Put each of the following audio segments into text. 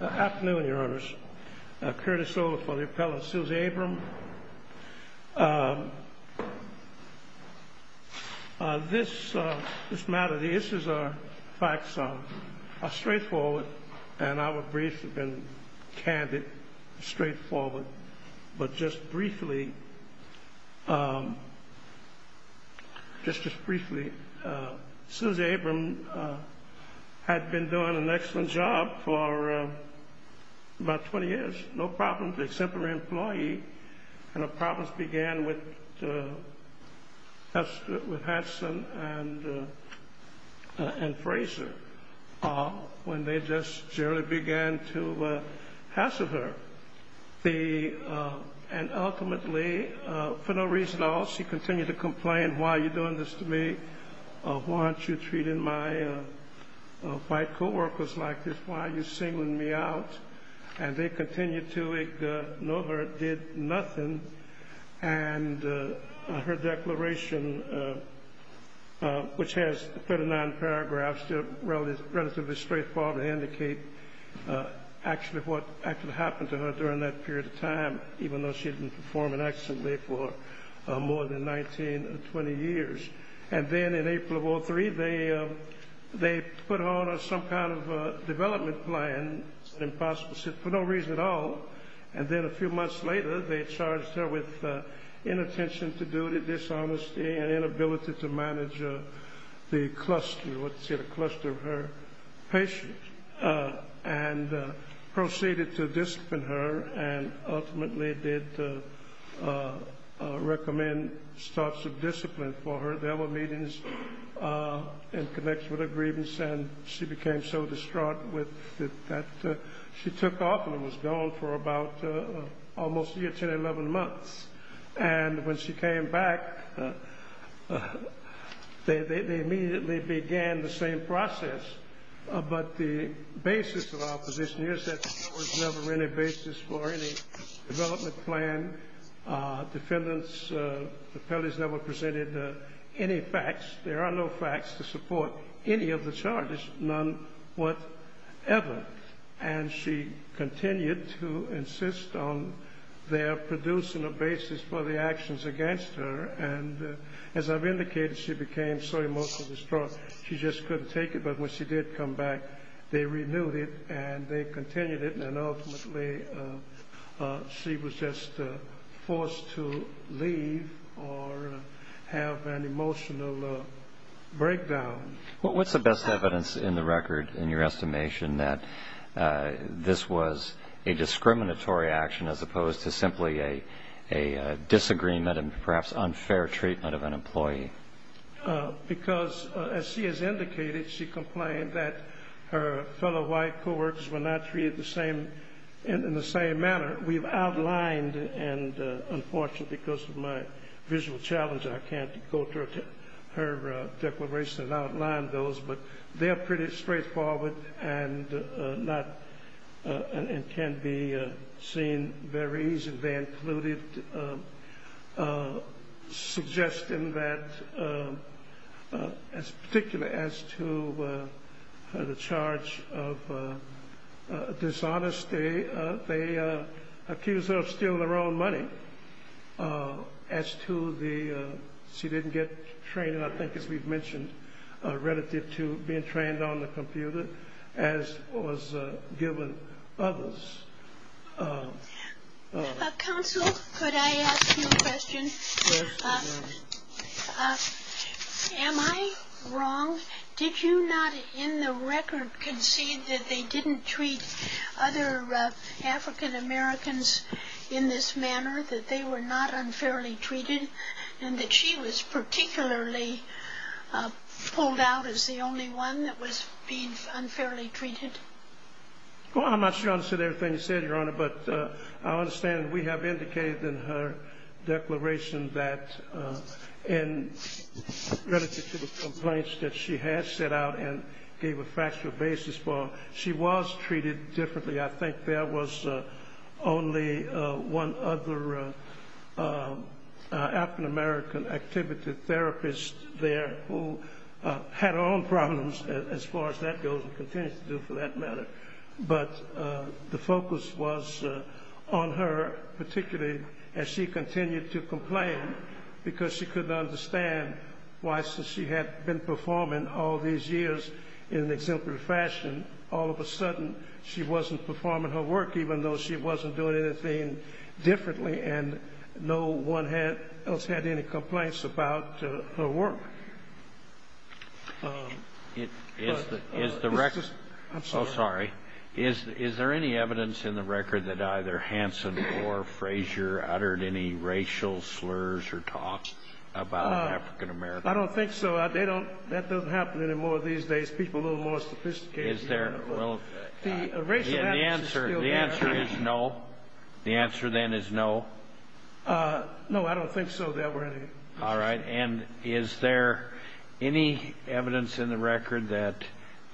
Afternoon, your honors. Curtis Over for the appellant Susie Abram. This matter, the issues are facts are straightforward and our briefs have been candid, straightforward, but just briefly, just just briefly, Susie Abram had been doing an excellent job for about 20 years, no problems except for her employee, and her problems began with Hadson and Fraser when they just generally began to hassle her. And ultimately, for no reason at all, she continued to complain, why are you singling me out? And they continued to ignore her, did nothing, and her declaration, which has 39 paragraphs, relatively straightforward to indicate actually what actually happened to her during that period of time, even though she had been performing excellently for more than 19 or 20 years. And then in April of development plan, impossible, for no reason at all, and then a few months later they charged her with inattention to duty, dishonesty, and inability to manage the cluster, let's say the cluster of her patients, and proceeded to discipline her and ultimately did recommend starts of discipline for her. There were meetings in connection with her grievance and she became so distraught with that she took off and was gone for about almost a year to 11 months. And when she came back, they immediately began the same process, but the basis of our position is that there was never any basis for any development plan, defendants, the appellees never presented any facts, there are no facts to support any of the charges, none whatever. And she continued to insist on their producing a basis for the actions against her. And as I've indicated, she became so emotionally distraught, she just couldn't take it. But when she did come back, they renewed it, and they continued it. And ultimately, she was just forced to leave or have an emotional breakdown. What's the best evidence in the record in your estimation that this was a discriminatory action as opposed to simply a disagreement and perhaps unfair treatment of an employee? Because, as she has indicated, she complained that her fellow white co-workers were not treated in the same manner. We've outlined, and unfortunately because of my visual challenge, I can't go through her declaration and outline those, but they're pretty straightforward and can be seen very easily. They included suggesting that, particularly as to the charge of dishonesty, they accused her of stealing their own money. As to the, she didn't get training, I think, as we've mentioned, relative to being trained on the computer, as was given others. Counsel, could I ask you a question? Am I wrong? Did you not, in the record, concede that they didn't treat other African-Americans in this manner, that they were not unfairly treated, and that she was particularly pulled out as the only one that was being unfairly treated? Well, I'm not sure I understood everything you said, Your Honor, but I understand we have indicated in her declaration that, relative to the complaints that she has set out and gave a factual basis for, she was treated differently. I think there was only one other African-American activity therapist there who had her own problems, as far as that goes, and continues to do for that matter, but the focus was on her, particularly as she continued to complain, because she couldn't understand why, since she had been performing all these years in an exemplary fashion, all of a sudden, she wasn't performing her work, even though she wasn't doing anything differently, and no one else had any complaints about her work. Is there any evidence in the record that either Hanson or Frasier uttered any racial slurs or talks about African-Americans? I don't think so. That doesn't happen anymore these days. People are a little more sophisticated. Is there? Well, the answer is no. The answer, then, is no. No, I don't think so, Your Honor. All right. And is there any evidence in the record that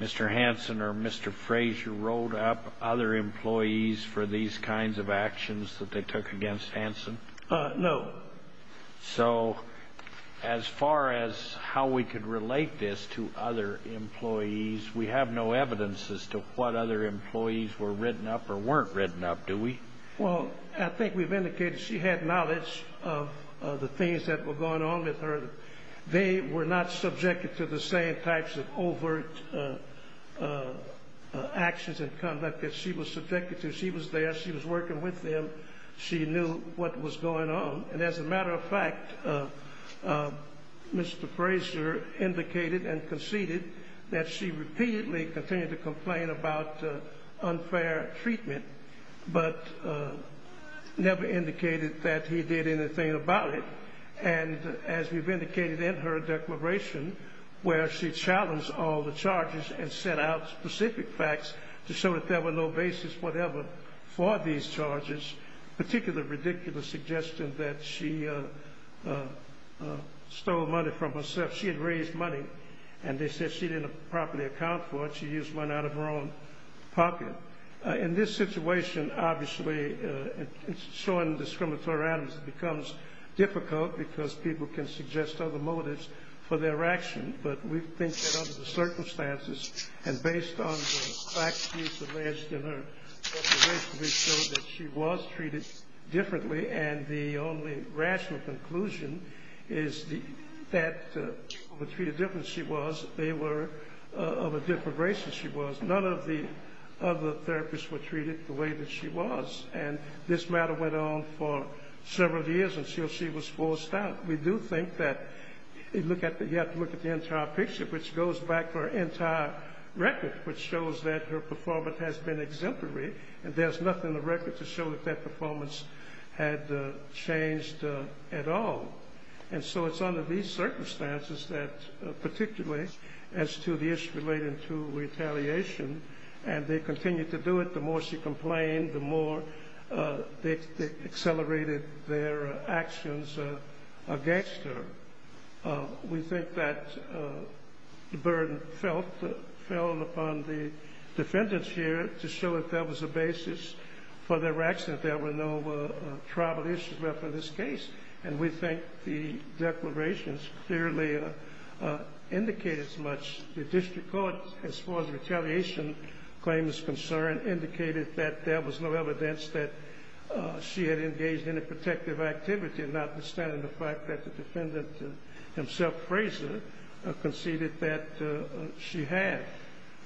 Mr. Hanson or Mr. Frasier rolled up other employees for these kinds of actions that they took against Hanson? No. So, as far as how we could relate this to other employees, we have no evidence as to what other employees were written up or weren't written up, do we? Well, I think we've indicated she had knowledge of the things that were going on with her. They were not subjected to the same types of overt actions and conduct that she was subjected to. She was there. She was working with them. She knew what was going on. And as a matter of fact, Mr. Frasier indicated and conceded that she repeatedly continued to complain about unfair treatment, but never indicated that he did anything about it. And as we've indicated in her declaration, where she challenged all the charges and set out specific facts to show that there were no basis whatever for these charges, particularly the ridiculous suggestion that she stole money from herself. She had raised money, and they said she didn't properly account for it. She used one out of her own pocket. Now, in this situation, obviously, showing discriminatory actions becomes difficult because people can suggest other motives for their action. But we think that under the circumstances and based on the facts used in her declaration, we show that she was treated differently. And the only rational conclusion is that the way she was, they were of a different race than she was. None of the other therapists were treated the way that she was. And this matter went on for several years until she was forced out. We do think that you have to look at the entire picture, which goes back to her entire record, which shows that her performance has been exemplary. And there's nothing in the record to show that that performance had changed at all. And so it's under these circumstances that particularly as to the issue related to retaliation, and they continue to do it, the more she complained, the more they accelerated their actions against her. We think that the burden fell upon the defendants here to show that there was a basis for their action, that there were no tribal issues left in this case. And we think the declarations clearly indicate as much. The district court, as far as retaliation claims concerned, indicated that there was no evidence that she had engaged in a protective activity, notwithstanding the fact that the defendant himself, Fraser, conceded that she had.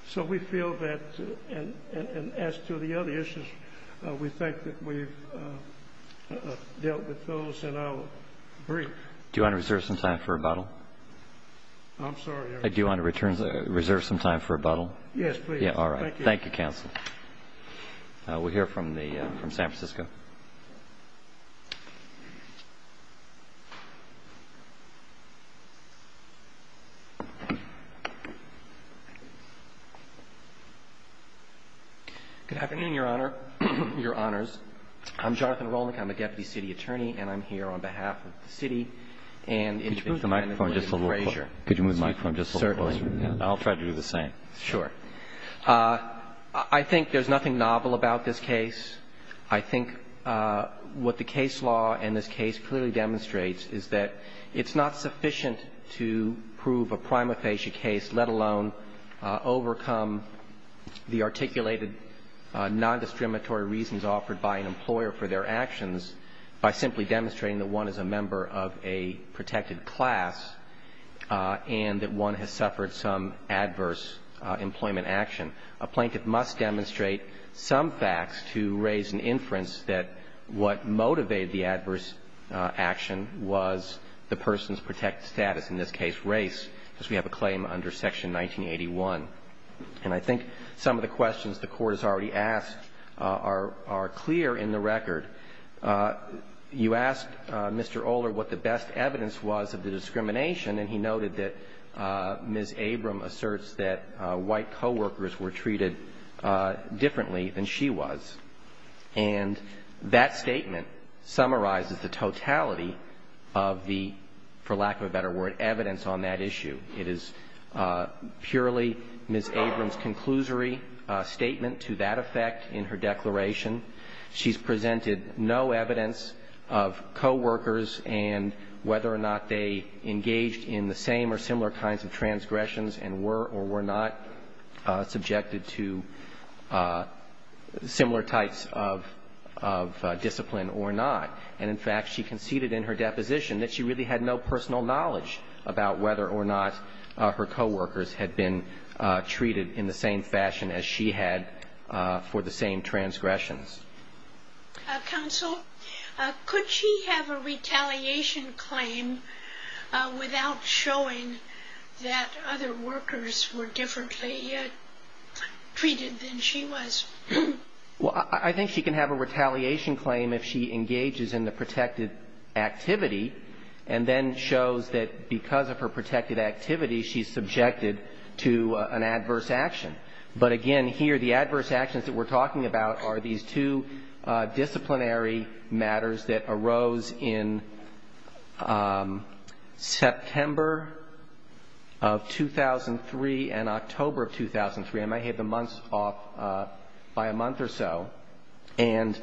So we feel that as to the other issues, we think that we've dealt with those, and I'll brief. Do you want to reserve some time for rebuttal? I'm sorry, Your Honor. Do you want to reserve some time for rebuttal? Yes, please. All right. Thank you, counsel. We'll hear from San Francisco. Good afternoon, Your Honor, Your Honors. I'm Jonathan Rolnick. I'm a deputy city attorney, and I'm here on behalf of the city and its defendant, William Fraser. Could you move the microphone just a little closer? Certainly. I'll try to do the same. Sure. I think there's nothing novel about this case. I think what the case law in this case clearly demonstrates is that it's not sufficient to prove a prima facie case, let alone overcome the articulated nondiscriminatory reasons offered by an employer for their actions by simply demonstrating that one is a member of a protected class and that one has suffered some adverse employment action. A plaintiff must demonstrate some facts to raise an inference that what motivated the adverse action was the person's protected status, in this case race, as we have a claim under Section 1981. And I think some of the questions the Court has already asked are clear in the record. You asked Mr. Oler what the best evidence was of the discrimination, and he noted that Ms. Abram asserts that white coworkers were treated differently than she was. And that statement summarizes the totality of the, for lack of a better word, evidence on that issue. It is purely Ms. Abram's conclusory statement to that effect in her declaration. She's presented no evidence of coworkers and whether or not they engaged in the same or similar kinds of transgressions and were or were not subjected to similar types of discipline or not. And in fact, she conceded in her deposition that she really had no personal knowledge about whether or not her coworkers had been treated in the same fashion as she had for the same transgressions. Counsel, could she have a retaliation claim without showing that other workers were differently treated than she was? Well, I think she can have a retaliation claim if she engages in the protected activity and then shows that because of her protected activity, she's subjected to an adverse action. But again, here the adverse actions that we're talking about are these two disciplinary matters that arose in September of 2003 and October of 2003. I may have the months off by a month or so. And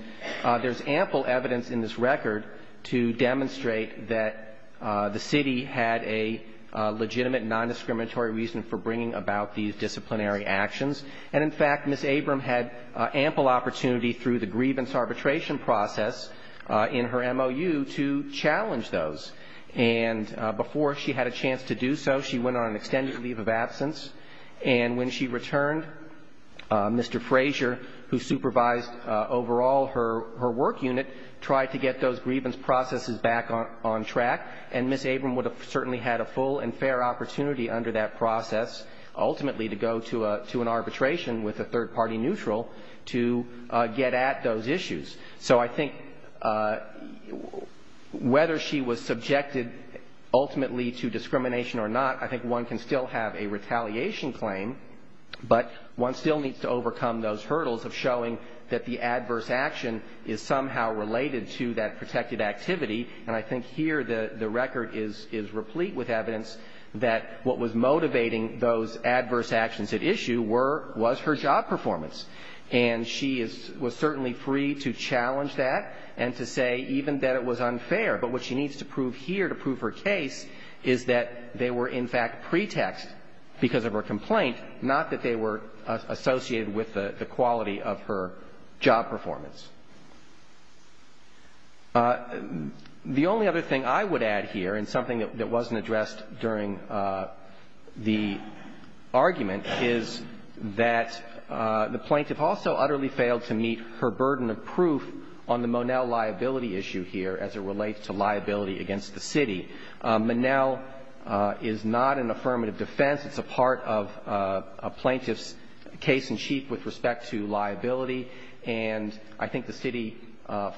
there's ample evidence in this record to demonstrate that the city had a legitimate nondiscriminatory reason for bringing about these disciplinary actions. And in fact, Ms. Abram had ample opportunity through the grievance arbitration process in her MOU to challenge those. And before she had a chance to do so, she went on an extended leave of absence. And when she returned, Mr. Fraser, who supervised overall her work unit, tried to get those grievance processes back on track. And Ms. Abram would have certainly had a full and fair opportunity under that process ultimately to go to an arbitration with a third-party neutral to get at those issues. So I think whether she was subjected ultimately to discrimination or not, I think one can still have a retaliation claim. But one still needs to overcome those hurdles of showing that the adverse action is somehow related to that protected activity. And I think here the record is replete with evidence that what was motivating those adverse actions at issue was her job performance. And she was certainly free to challenge that and to say even that it was unfair. But what she needs to prove here to prove her case is that they were in fact pretext because of her complaint, not that they were associated with the quality of her job performance. The only other thing I would add here, and something that wasn't addressed during the argument, is that the plaintiff also utterly failed to meet her burden of proof on the Monell liability issue here as it relates to liability against the city. Monell is not an affirmative defense. It's a part of a plaintiff's case-in-chief with respect to liability. And I think the city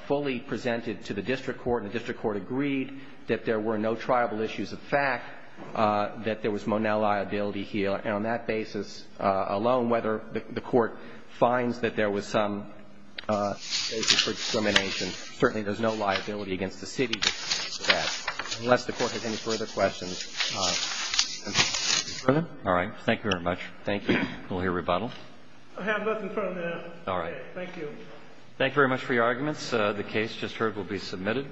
fully presented to the district court, and the district court agreed that there were no tribal issues of fact, that there was Monell liability here. And on that basis alone, whether the court finds that there was some basis for discrimination, certainly there's no liability against the city for that, unless the court has any further questions. All right. Thank you very much. Thank you. We'll hear rebuttal. I have nothing further to add. All right. Thank you. Thank you very much for your arguments. The case just heard will be submitted.